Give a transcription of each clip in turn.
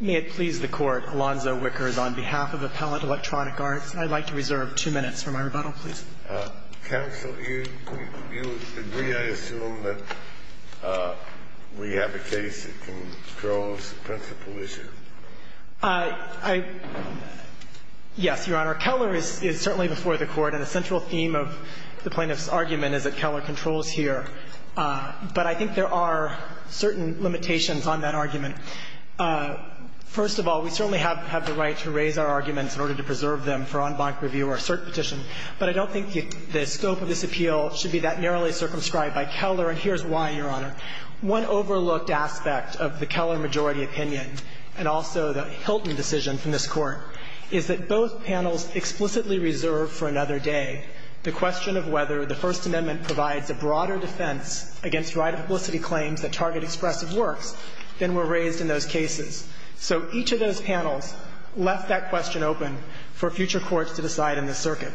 May it please the Court, Alonzo Wickers, on behalf of Appellant Electronic Arts, I'd like to reserve two minutes for my rebuttal, please. Counsel, you agree, I assume, that we have a case that controls the principal issue? Yes, Your Honor. Keller is certainly before the Court, and a central theme of the plaintiff's argument is that Keller controls here. But I think there are certain limitations on that argument. First of all, we certainly have the right to raise our arguments in order to preserve them for en banc review or cert petition. But I don't think the scope of this appeal should be that narrowly circumscribed by Keller, and here's why, Your Honor. One overlooked aspect of the Keller majority opinion, and also the Hilton decision from this Court, is that both panels explicitly reserve for another day the question of whether the First Amendment provides a broader defense against right-of-publicity claims that target expressive works than were raised in those cases. So each of those panels left that question open for future courts to decide in the circuit.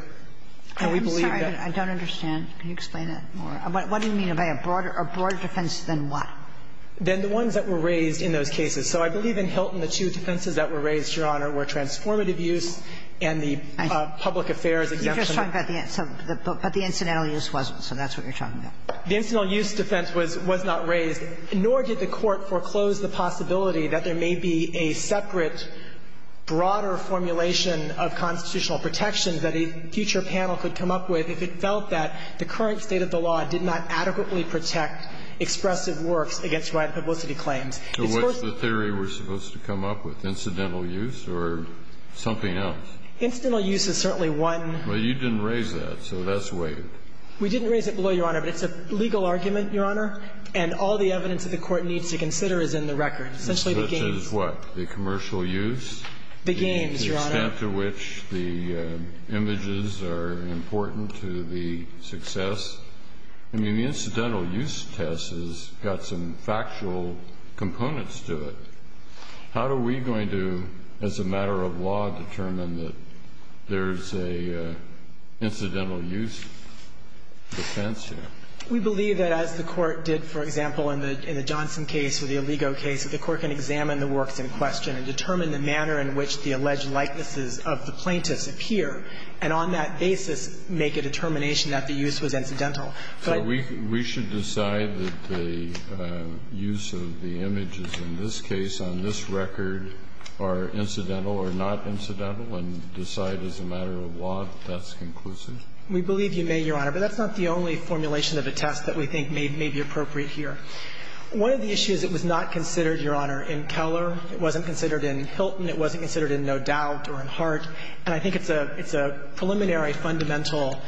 And we believe that the ones that were raised in those cases. So I believe in Hilton the two defenses that were raised, Your Honor, were transformative use and the public affairs exemption. But the incidental use wasn't, so that's what you're talking about. The incidental use defense was not raised, nor did the Court foreclose the possibility that there may be a separate, broader formulation of constitutional protection that a future panel could come up with if it felt that the current state of the law did not adequately protect expressive works against right-of-publicity claims. So what's the theory we're supposed to come up with? Incidental use or something else? Incidental use is certainly one. Well, you didn't raise that, so that's waived. We didn't raise it below, Your Honor. But it's a legal argument, Your Honor, and all the evidence that the Court needs to consider is in the record, essentially the games. Such as what? The commercial use? The games, Your Honor. The extent to which the images are important to the success? I mean, the incidental use test has got some factual components to it. How are we going to, as a matter of law, determine that there's an incidental use defense here? We believe that as the Court did, for example, in the Johnson case or the Aligo case, that the Court can examine the works in question and determine the manner in which the alleged likenesses of the plaintiffs appear, and on that basis make a determination that the use was incidental. But we should decide that the use of the images in this case, on this record, are incidental or not incidental and decide as a matter of law that that's conclusive? We believe you may, Your Honor, but that's not the only formulation of a test that we think may be appropriate here. One of the issues that was not considered, Your Honor, in Keller, it wasn't considered in Hilton, it wasn't considered in No Doubt or in Hart, and I think it's a preliminary or a fundamental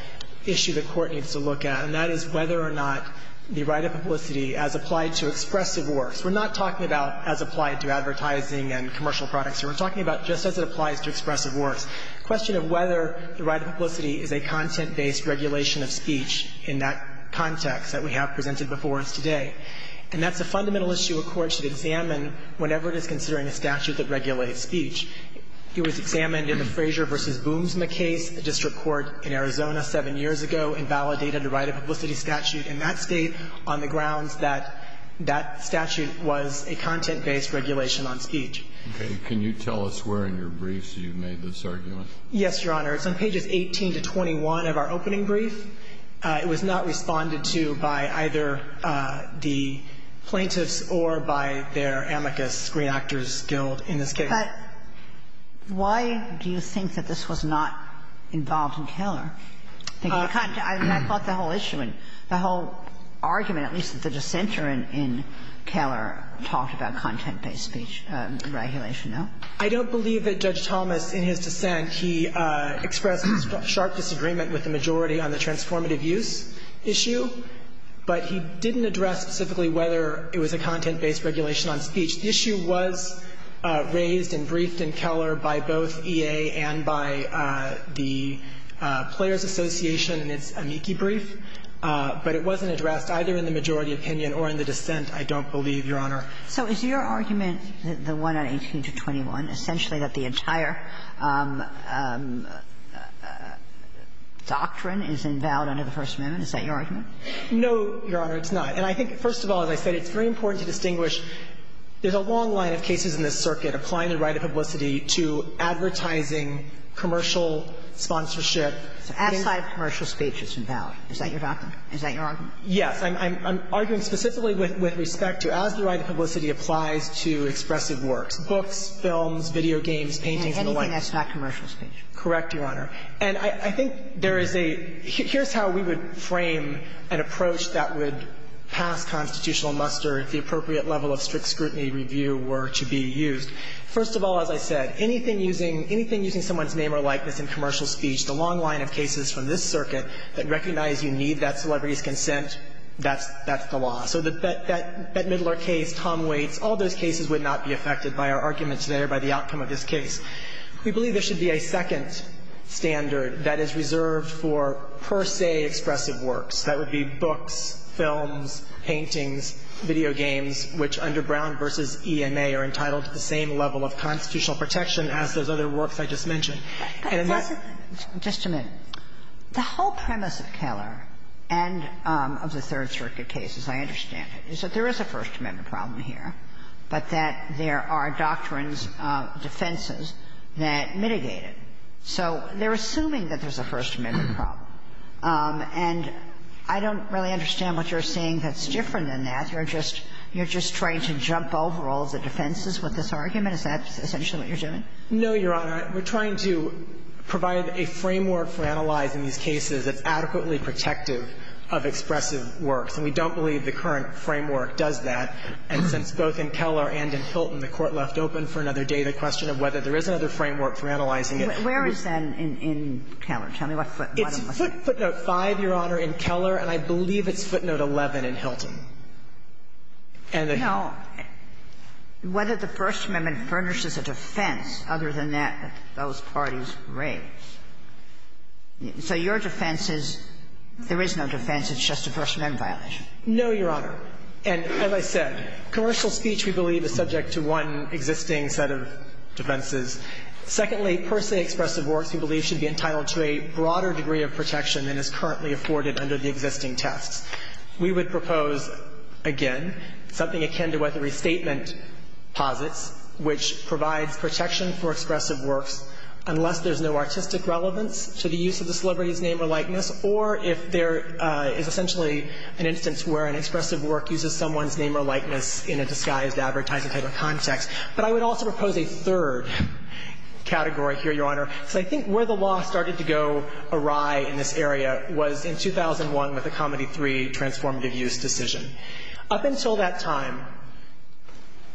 issue the Court needs to look at, and that is whether or not the right of publicity as applied to expressive works. We're not talking about as applied to advertising and commercial products here. We're talking about just as it applies to expressive works, the question of whether the right of publicity is a content-based regulation of speech in that context that we have presented before us today. And that's a fundamental issue a court should examine whenever it is considering a statute that regulates speech. It was examined in the Frazier v. Boomsma case, the district court in Arizona seven years ago, invalidated the right of publicity statute in that State on the grounds that that statute was a content-based regulation on speech. Okay. Can you tell us where in your briefs you made this argument? Yes, Your Honor. It's on pages 18 to 21 of our opening brief. It was not responded to by either the plaintiffs or by their amicus screen actors guild in this case. But why do you think that this was not involved in Keller? I mean, I thought the whole issue and the whole argument, at least the dissenter in Keller, talked about content-based speech regulation, no? I don't believe that Judge Thomas in his dissent, he expressed his sharp disagreement with the majority on the transformative use issue, but he didn't address specifically whether it was a content-based regulation on speech. The issue was raised and briefed in Keller by both EA and by the Players Association in its amici brief, but it wasn't addressed either in the majority opinion or in the dissent, I don't believe, Your Honor. So is your argument, the one on 18 to 21, essentially that the entire doctrine is invalid under the First Amendment? Is that your argument? No, Your Honor, it's not. And I think, first of all, as I said, it's very important to distinguish there's a long line of cases in this circuit applying the right of publicity to advertising, commercial sponsorship. So outside of commercial speech, it's invalid. Is that your argument? Yes. I'm arguing specifically with respect to as the right of publicity applies to expressive works, books, films, video games, paintings and the like. And anything that's not commercial speech. Correct, Your Honor. And I think there is a – here's how we would frame an approach that would pass constitutional muster if the appropriate level of strict scrutiny review were to be used. First of all, as I said, anything using – anything using someone's name or likeness in commercial speech, the long line of cases from this circuit that recognize you need that celebrity's consent, that's the law. So that Bette Midler case, Tom Waits, all those cases would not be affected by our arguments there, by the outcome of this case. We believe there should be a second standard that is reserved for per se expressive works. That would be books, films, paintings, video games, which under Brown v. ENA are entitled to the same level of constitutional protection as those other works I just mentioned. And in that – Just a minute. The whole premise of Keller and of the Third Circuit case, as I understand it, is that there is a First Amendment problem here, but that there are doctrines in those defenses that mitigate it. So they're assuming that there's a First Amendment problem. And I don't really understand what you're saying that's different than that. You're just – you're just trying to jump over all the defenses with this argument? Is that essentially what you're doing? No, Your Honor. We're trying to provide a framework for analyzing these cases that's adequately protective of expressive works. And we don't believe the current framework does that. And since both in Keller and in Hilton, the Court left open for another day the question of whether there is another framework for analyzing it. Where is that in Keller? Tell me what footnote was that. It's footnote 5, Your Honor, in Keller, and I believe it's footnote 11 in Hilton. And the – No. Whether the First Amendment furnishes a defense other than that those parties raise. So your defense is there is no defense. It's just a First Amendment violation. No, Your Honor. And as I said, commercial speech, we believe, is subject to one existing set of defenses. Secondly, per se expressive works, we believe, should be entitled to a broader degree of protection than is currently afforded under the existing tests. We would propose, again, something akin to what the restatement posits, which provides protection for expressive works unless there's no artistic relevance to the use of the celebrity's name or likeness or if there is essentially an instance where an expressive work uses someone's name or likeness in a disguised advertising type of context. But I would also propose a third category here, Your Honor, because I think where the law started to go awry in this area was in 2001 with the Comedy III transformative use decision. Up until that time,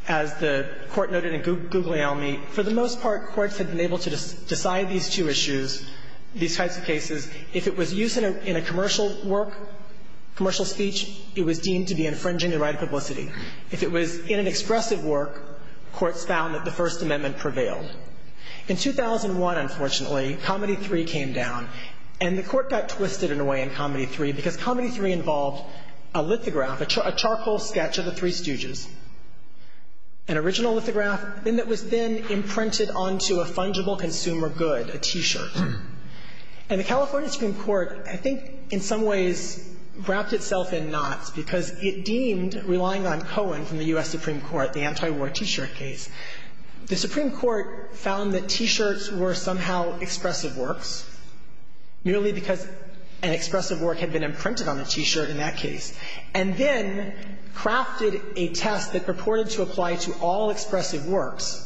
as the Court noted in Guglielmi, for the most part, courts had been able to decide these two issues, these types of cases, if it was used in a commercial work, commercial speech, it was deemed to be infringing the right of publicity. If it was in an expressive work, courts found that the First Amendment prevailed. In 2001, unfortunately, Comedy III came down. And the Court got twisted in a way in Comedy III because Comedy III involved a lithograph, a charcoal sketch of the Three Stooges, an original lithograph that was then imprinted onto a fungible consumer good, a T-shirt. And the California Supreme Court, I think, in some ways, wrapped itself in knots because it deemed relying on Cohen from the U.S. Supreme Court, the antiwar T-shirt case, the Supreme Court found that T-shirts were somehow expressive works, merely because an expressive work had been imprinted on the T-shirt in that case, and then crafted a test that purported to apply to all expressive works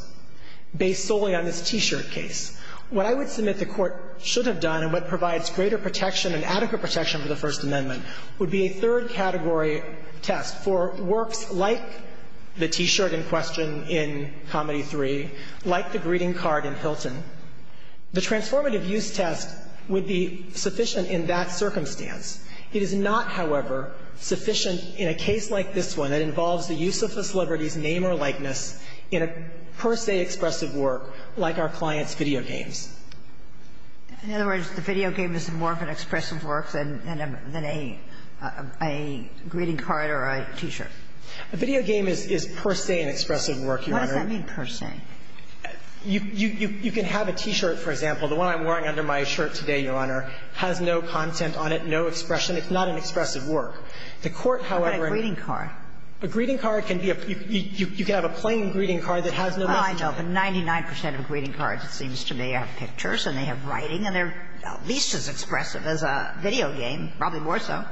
based solely on this T-shirt case. What I would submit the Court should have done and what provides greater protection and adequate protection for the First Amendment would be a third category test for works like the T-shirt in question in Comedy III, like the greeting card in Hilton. The transformative use test would be sufficient in that circumstance. It is not, however, sufficient in a case like this one that involves the use of a celebrity's name or likeness in a per se expressive work like our client's video games. In other words, the video game is more of an expressive work than a greeting card or a T-shirt. A video game is per se an expressive work, Your Honor. What does that mean, per se? You can have a T-shirt, for example. The one I'm wearing under my shirt today, Your Honor, has no content on it, no expression. It's not an expressive work. The Court, however, in a greeting card. A greeting card can be a – you can have a plain greeting card that has no expression. Well, I know, but 99 percent of greeting cards, it seems to me, have pictures and they have writing and they're at least as expressive as a video game, probably more so.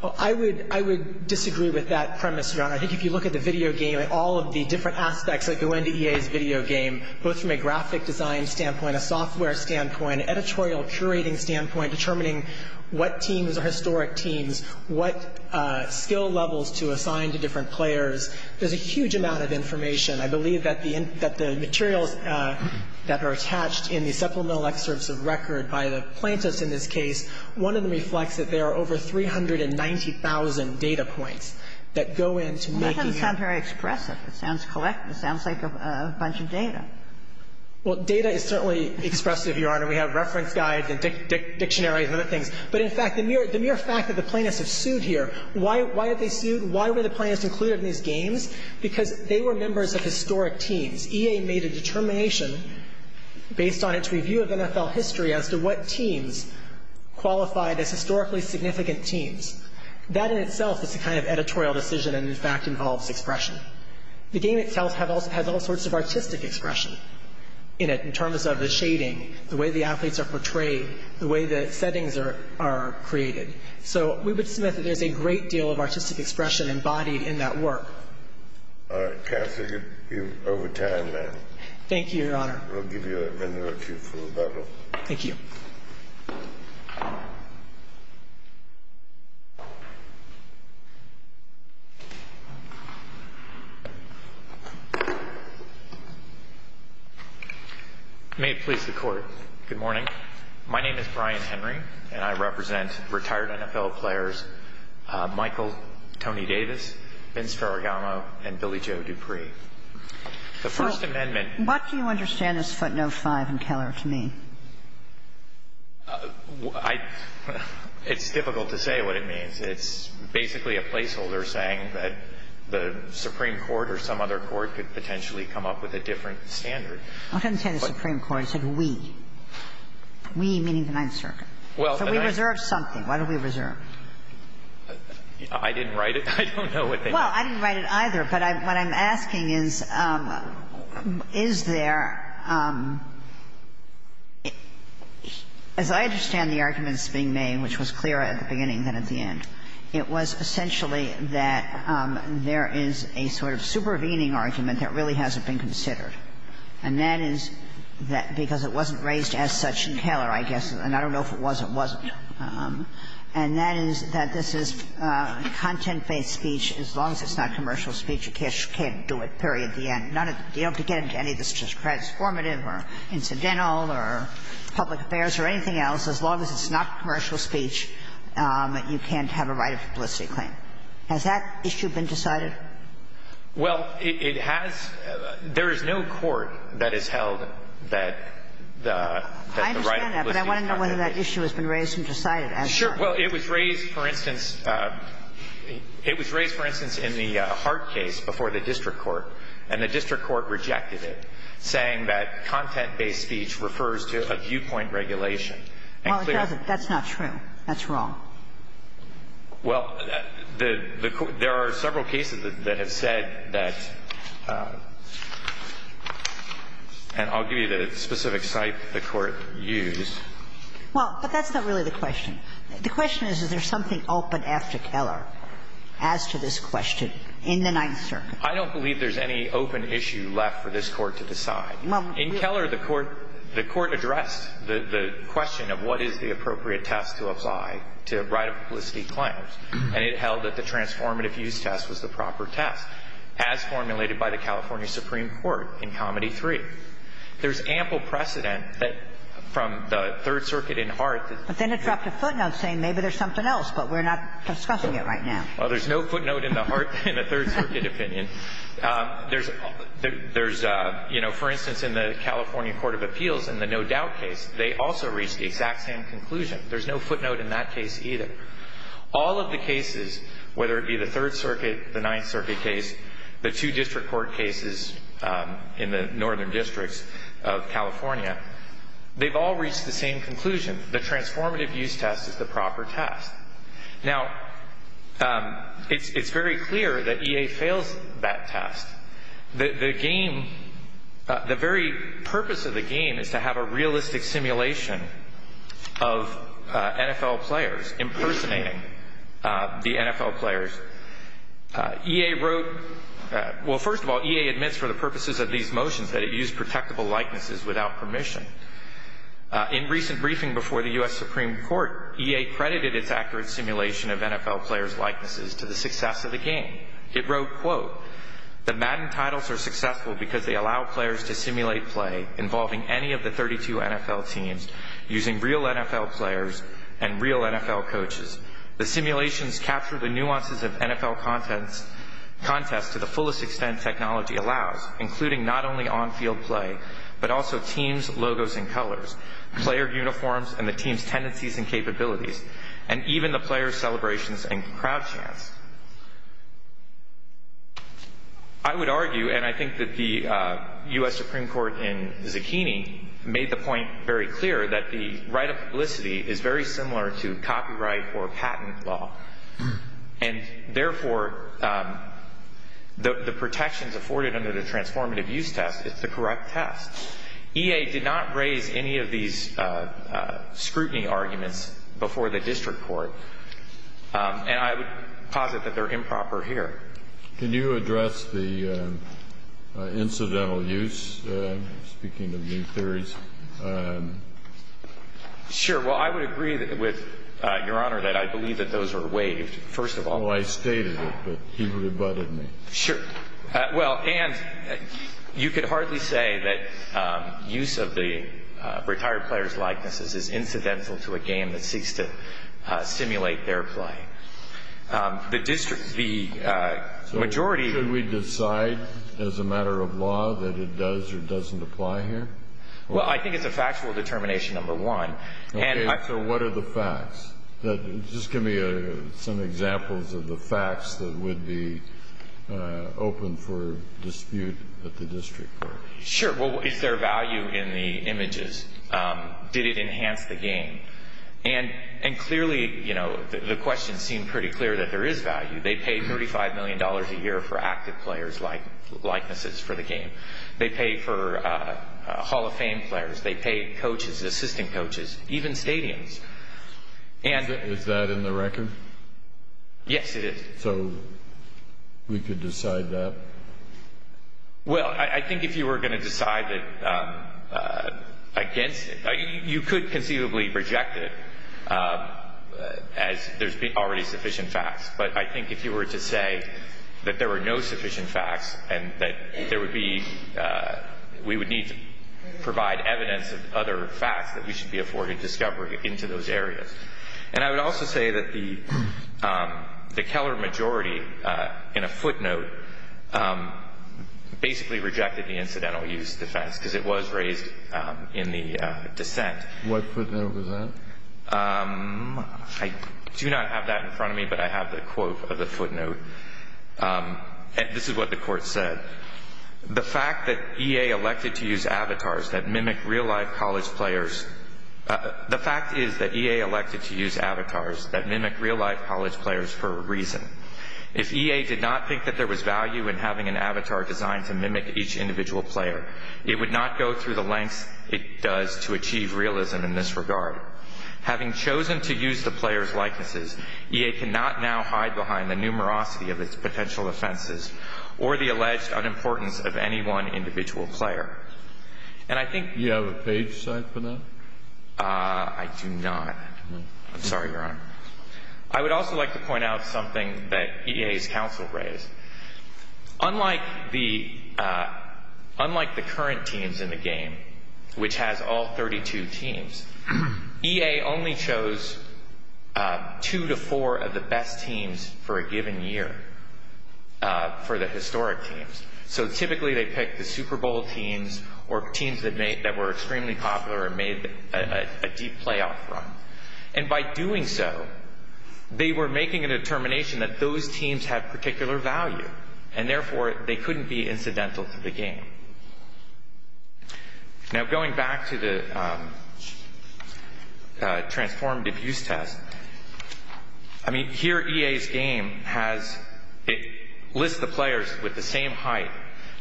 Well, I would – I would disagree with that premise, Your Honor. I think if you look at the video game and all of the different aspects that go into EA's video game, both from a graphic design standpoint, a software standpoint, editorial curating standpoint, determining what teams are historic teams, what skill levels to assign to different players, there's a huge amount of information. I believe that the materials that are attached in the supplemental excerpts of record by the plaintiffs in this case, one of them reflects that there are over 390,000 data points that go into making a – Well, that doesn't sound very expressive. It sounds collective. It sounds like a bunch of data. Well, data is certainly expressive, Your Honor. We have reference guides and dictionaries and other things. But in fact, the mere fact that the plaintiffs have sued here, why have they sued? Why were the plaintiffs included in these games? Because they were members of historic teams. EA made a determination based on its review of NFL history as to what teams qualified as historically significant teams. That in itself is a kind of editorial decision and in fact involves expression. The game itself has all sorts of artistic expression in it in terms of the shading, the way the athletes are portrayed, the way the settings are created. So we would submit that there's a great deal of artistic expression embodied in that work. All right. Kathy, you're over time now. Thank you, Your Honor. We'll give you a minute or two for rebuttal. Thank you. May it please the Court. Good morning. My name is Brian Henry, and I represent retired NFL players Michael Tony Davis, Vince Ferragamo, and Billy Joe Dupree. The First Amendment ---- What do you understand this footnote 5 in Keller to mean? I ---- it's difficult to say what it means. It's basically a placeholder saying that the Supreme Court or some other court could potentially come up with a different standard. I don't understand the Supreme Court. It said we. We meaning the Ninth Circuit. Well, the Ninth ---- So we reserve something. What do we reserve? I didn't write it. I don't know what they mean. Well, I didn't write it either. But what I'm asking is, is there ---- as I understand the arguments being made, which was clearer at the beginning than at the end, it was essentially that there is a sort of supervening argument that really hasn't been considered. And that is that because it wasn't raised as such in Keller, I guess, and I don't know if it was or wasn't. And that is that this is content-based speech. As long as it's not commercial speech, you can't do it, period, the end. None of the ---- you don't have to get into any of this transformative or incidental or public affairs or anything else. As long as it's not commercial speech, you can't have a right of publicity claim. Has that issue been decided? Well, it has. There is no court that has held that the right of publicity claim ---- I understand that, but I want to know whether that issue has been raised and decided as such. Sure. Well, it was raised, for instance ---- it was raised, for instance, in the Hart case before the district court, and the district court rejected it, saying that content-based speech refers to a viewpoint regulation. Well, it doesn't. That's not true. That's wrong. Well, the court ---- there are several cases that have said that ---- and I'll give you the specific site the Court used. Well, but that's not really the question. The question is, is there something open after Keller as to this question in the Ninth Circuit? I don't believe there's any open issue left for this Court to decide. In Keller, the Court addressed the question of what is the appropriate test to apply to right of publicity claims, and it held that the transformative use test was the proper test, as formulated by the California Supreme Court in Comedy 3. There's ample precedent that from the Third Circuit in Hart that ---- But then it dropped a footnote saying maybe there's something else, but we're not discussing it right now. Well, there's no footnote in the Hart ---- in the Third Circuit opinion. There's ---- there's, you know, for instance, in the California Court of Appeals, in the no-doubt case, they also reached the exact same conclusion. There's no footnote in that case either. All of the cases, whether it be the Third Circuit, the Ninth Circuit case, the two district court cases in the northern districts of California, they've all reached the same conclusion. The transformative use test is the proper test. Now, it's very clear that EA fails that test. The game ---- the very purpose of the game is to have a realistic simulation of NFL players, impersonating the NFL players. EA wrote ---- well, first of all, EA admits for the purposes of these motions that it used protectable likenesses without permission. In recent briefing before the U.S. Supreme Court, EA credited its accurate simulation of NFL players' likenesses to the success of the game. It wrote, quote, the Madden titles are successful because they allow players to simulate play involving any of the 32 NFL teams using real NFL players and real NFL coaches. The simulations capture the nuances of NFL contests to the fullest extent technology allows, including not only on-field play, but also teams, logos, and colors, player uniforms, and the team's tendencies and capabilities, and even the players' celebrations and crowd chants. I would argue, and I think that the U.S. Supreme Court in Zucchini made the point very clear, that the right of publicity is very similar to copyright or patent law, and therefore the protections afforded under the transformative use test is the correct test. EA did not raise any of these scrutiny arguments before the district court, and I would posit that they're improper here. Can you address the incidental use, speaking of new theories? Sure. Well, I would agree with Your Honor that I believe that those are waived, first of all. Well, I stated it, but he rebutted me. Sure. Well, and you could hardly say that use of the retired players' likenesses is incidental to a game that seeks to simulate their play. The majority... Should we decide, as a matter of law, that it does or doesn't apply here? Well, I think it's a factual determination, number one. Okay, so what are the facts? Just give me some examples of the facts that would be open for dispute at the district court. Sure. Well, is there value in the images? Did it enhance the game? And clearly, you know, the questions seem pretty clear that there is value. They pay $35 million a year for active players' likenesses for the game. They pay for Hall of Fame players. They pay coaches, assistant coaches, even stadiums. Is that in the record? Yes, it is. So we could decide that? Well, I think if you were going to decide against it, you could conceivably reject it, as there's already sufficient facts. But I think if you were to say that there were no sufficient facts and that there would be we would need to provide evidence of other facts that we should be afforded discovery into those areas. And I would also say that the Keller majority, in a footnote, basically rejected the incidental use defense because it was raised in the dissent. What footnote was that? I do not have that in front of me, but I have the quote of the footnote. This is what the court said. The fact that EA elected to use avatars that mimic real-life college players for a reason. If EA did not think that there was value in having an avatar designed to mimic each individual player, it would not go through the lengths it does to achieve realism in this regard. Having chosen to use the players' likenesses, EA cannot now hide behind the numerosity of its potential offenses or the alleged unimportance of any one individual player. And I think- Do you have a page cite for that? I do not. I'm sorry, Your Honor. I would also like to point out something that EA's counsel raised. Unlike the current teams in the game, which has all 32 teams, EA only chose two to four of the best teams for a given year for the historic teams. So typically they picked the Super Bowl teams or teams that were extremely popular and made a deep playoff run. And by doing so, they were making a determination that those teams had particular value, and therefore they couldn't be incidental to the game. Now, going back to the transformed abuse test, I mean, here EA's game has ‑‑ it lists the players with the same height,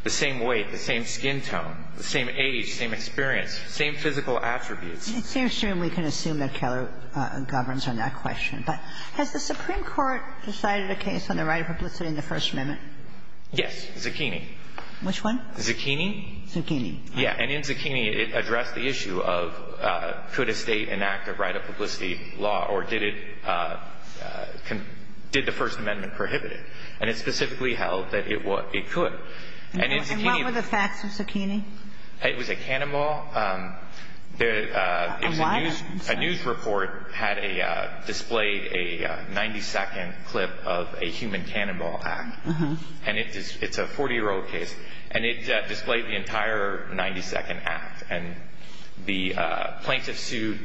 the same weight, the same skin tone, the same age, same experience, same physical attributes. It seems to me we can assume that Keller governs on that question. But has the Supreme Court decided a case on the right of publicity in the First Amendment? Yes. Zucchini. Which one? Zucchini. Zucchini? Zucchini. And in Zucchini, it addressed the issue of could a state enact a right of publicity law or did it ‑‑ did the First Amendment prohibit it? And it specifically held that it could. And what were the facts of Zucchini? It was a cannonball. A what? A news report had displayed a 90‑second clip of a human cannonball act. And it's a 40‑year‑old case. And it displayed the entire 90‑second act. And the plaintiff sued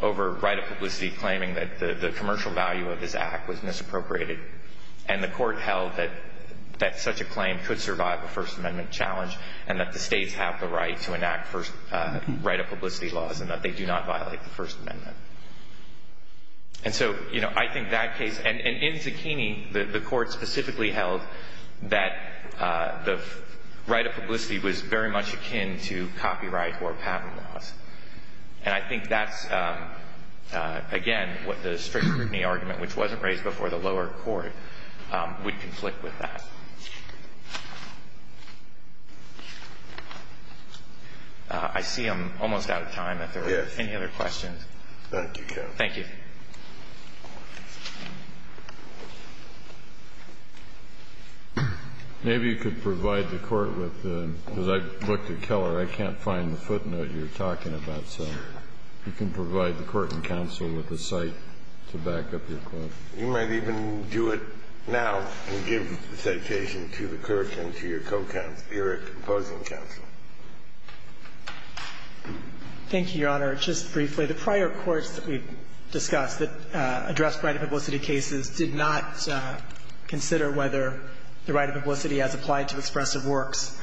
over right of publicity claiming that the commercial value of this act was misappropriated. And the court held that such a claim could survive a First Amendment challenge and that the states have the right to enact right of publicity laws and that they do not violate the First Amendment. And so, you know, I think that case ‑‑ and in Zucchini, the court specifically held that the right of publicity was very much akin to copyright or patent laws. And I think that's, again, what the strict scrutiny argument, which wasn't raised before the lower court, would conflict with that. I see I'm almost out of time. If there are any other questions. Thank you, Kevin. Thank you. Maybe you could provide the court with the ‑‑ because I looked at Keller. I can't find the footnote you're talking about. So you can provide the court and counsel with a cite to back up your question. You might even do it now and give the citation to the clerk and to your co‑counsel. You're opposing counsel. Thank you, Your Honor. Just briefly, the prior courts that we discussed that addressed right of publicity cases did not consider whether the right of publicity as applied to expressive works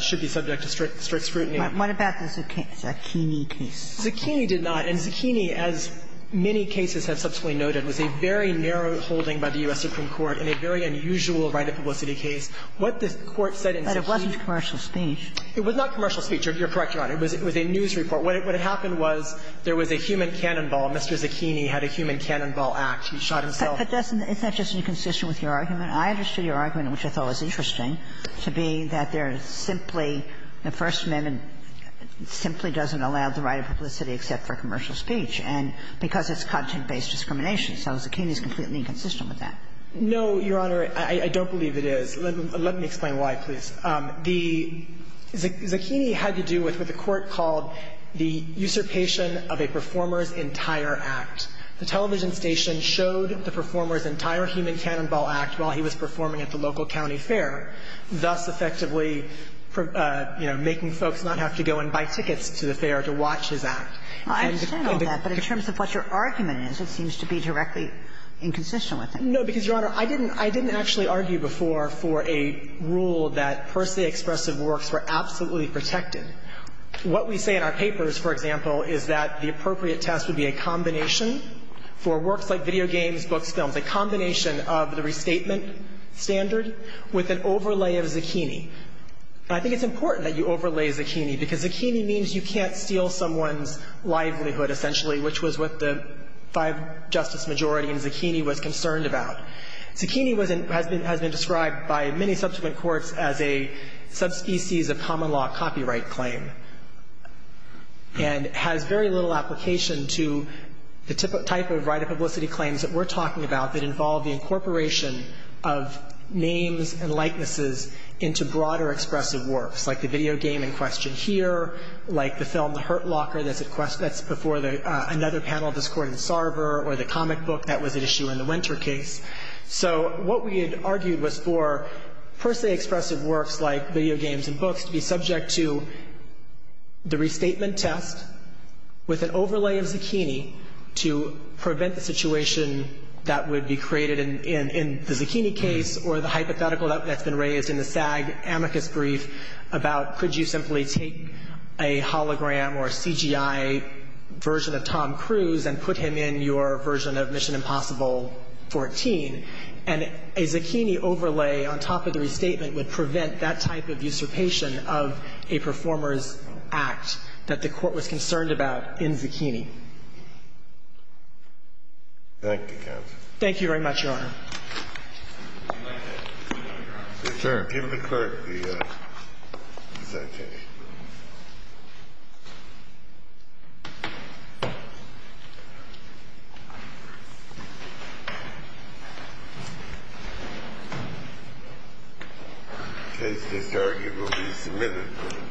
should be subject to strict scrutiny. What about the Zucchini case? Zucchini did not. And Zucchini, as many cases have subsequently noted, was a very narrow holding by the U.S. Supreme Court in a very unusual right of publicity case. What the court said in Zucchini ‑‑ But it wasn't commercial speech. It was not commercial speech. You're correct, Your Honor. It was a news report. What happened was there was a human cannonball. Mr. Zucchini had a human cannonball act. He shot himself. But doesn't ‑‑ it's not just inconsistent with your argument? I understood your argument, which I thought was interesting, to be that there is simply ‑‑ the First Amendment simply doesn't allow the right of publicity except for commercial speech, and because it's content-based discrimination. So Zucchini is completely inconsistent with that. No, Your Honor. I don't believe it is. Let me explain why, please. The ‑‑ Zucchini had to do with what the court called the usurpation of a performer's entire act. The television station showed the performer's entire human cannonball act while he was performing at the local county fair, thus effectively, you know, making folks not have to go and buy tickets to the fair to watch his act. I understand all that, but in terms of what your argument is, it seems to be directly inconsistent with it. No, because, Your Honor, I didn't actually argue before for a rule that per se expressive works were absolutely protected. What we say in our papers, for example, is that the appropriate test would be a combination for works like video games, books, films, a combination of the restatement standard with an overlay of Zucchini. And I think it's important that you overlay Zucchini, because Zucchini means you can't steal someone's livelihood, essentially, which was what the five justice majority in Zucchini was concerned about. Zucchini has been described by many subsequent courts as a subspecies of common law copyright claim and has very little application to the type of right of publicity claims that we're talking about that involve the incorporation of names and likenesses into broader expressive works, like the video game in question here, like the film or the comic book that was at issue in the Winter case. So what we had argued was for per se expressive works like video games and books to be subject to the restatement test with an overlay of Zucchini to prevent the situation that would be created in the Zucchini case or the hypothetical that's been raised in the SAG amicus brief about could you simply take a hologram or a CGI version of Tom Cruise and put him in your version of Mission Impossible 14, and a Zucchini overlay on top of the restatement would prevent that type of usurpation of a performer's act that the Court was concerned about in Zucchini. Thank you, Counsel. Thank you very much, Your Honor. If you'd like to speak on it, Your Honor. Sure. Give the clerk the citation. The case to start will be submitted.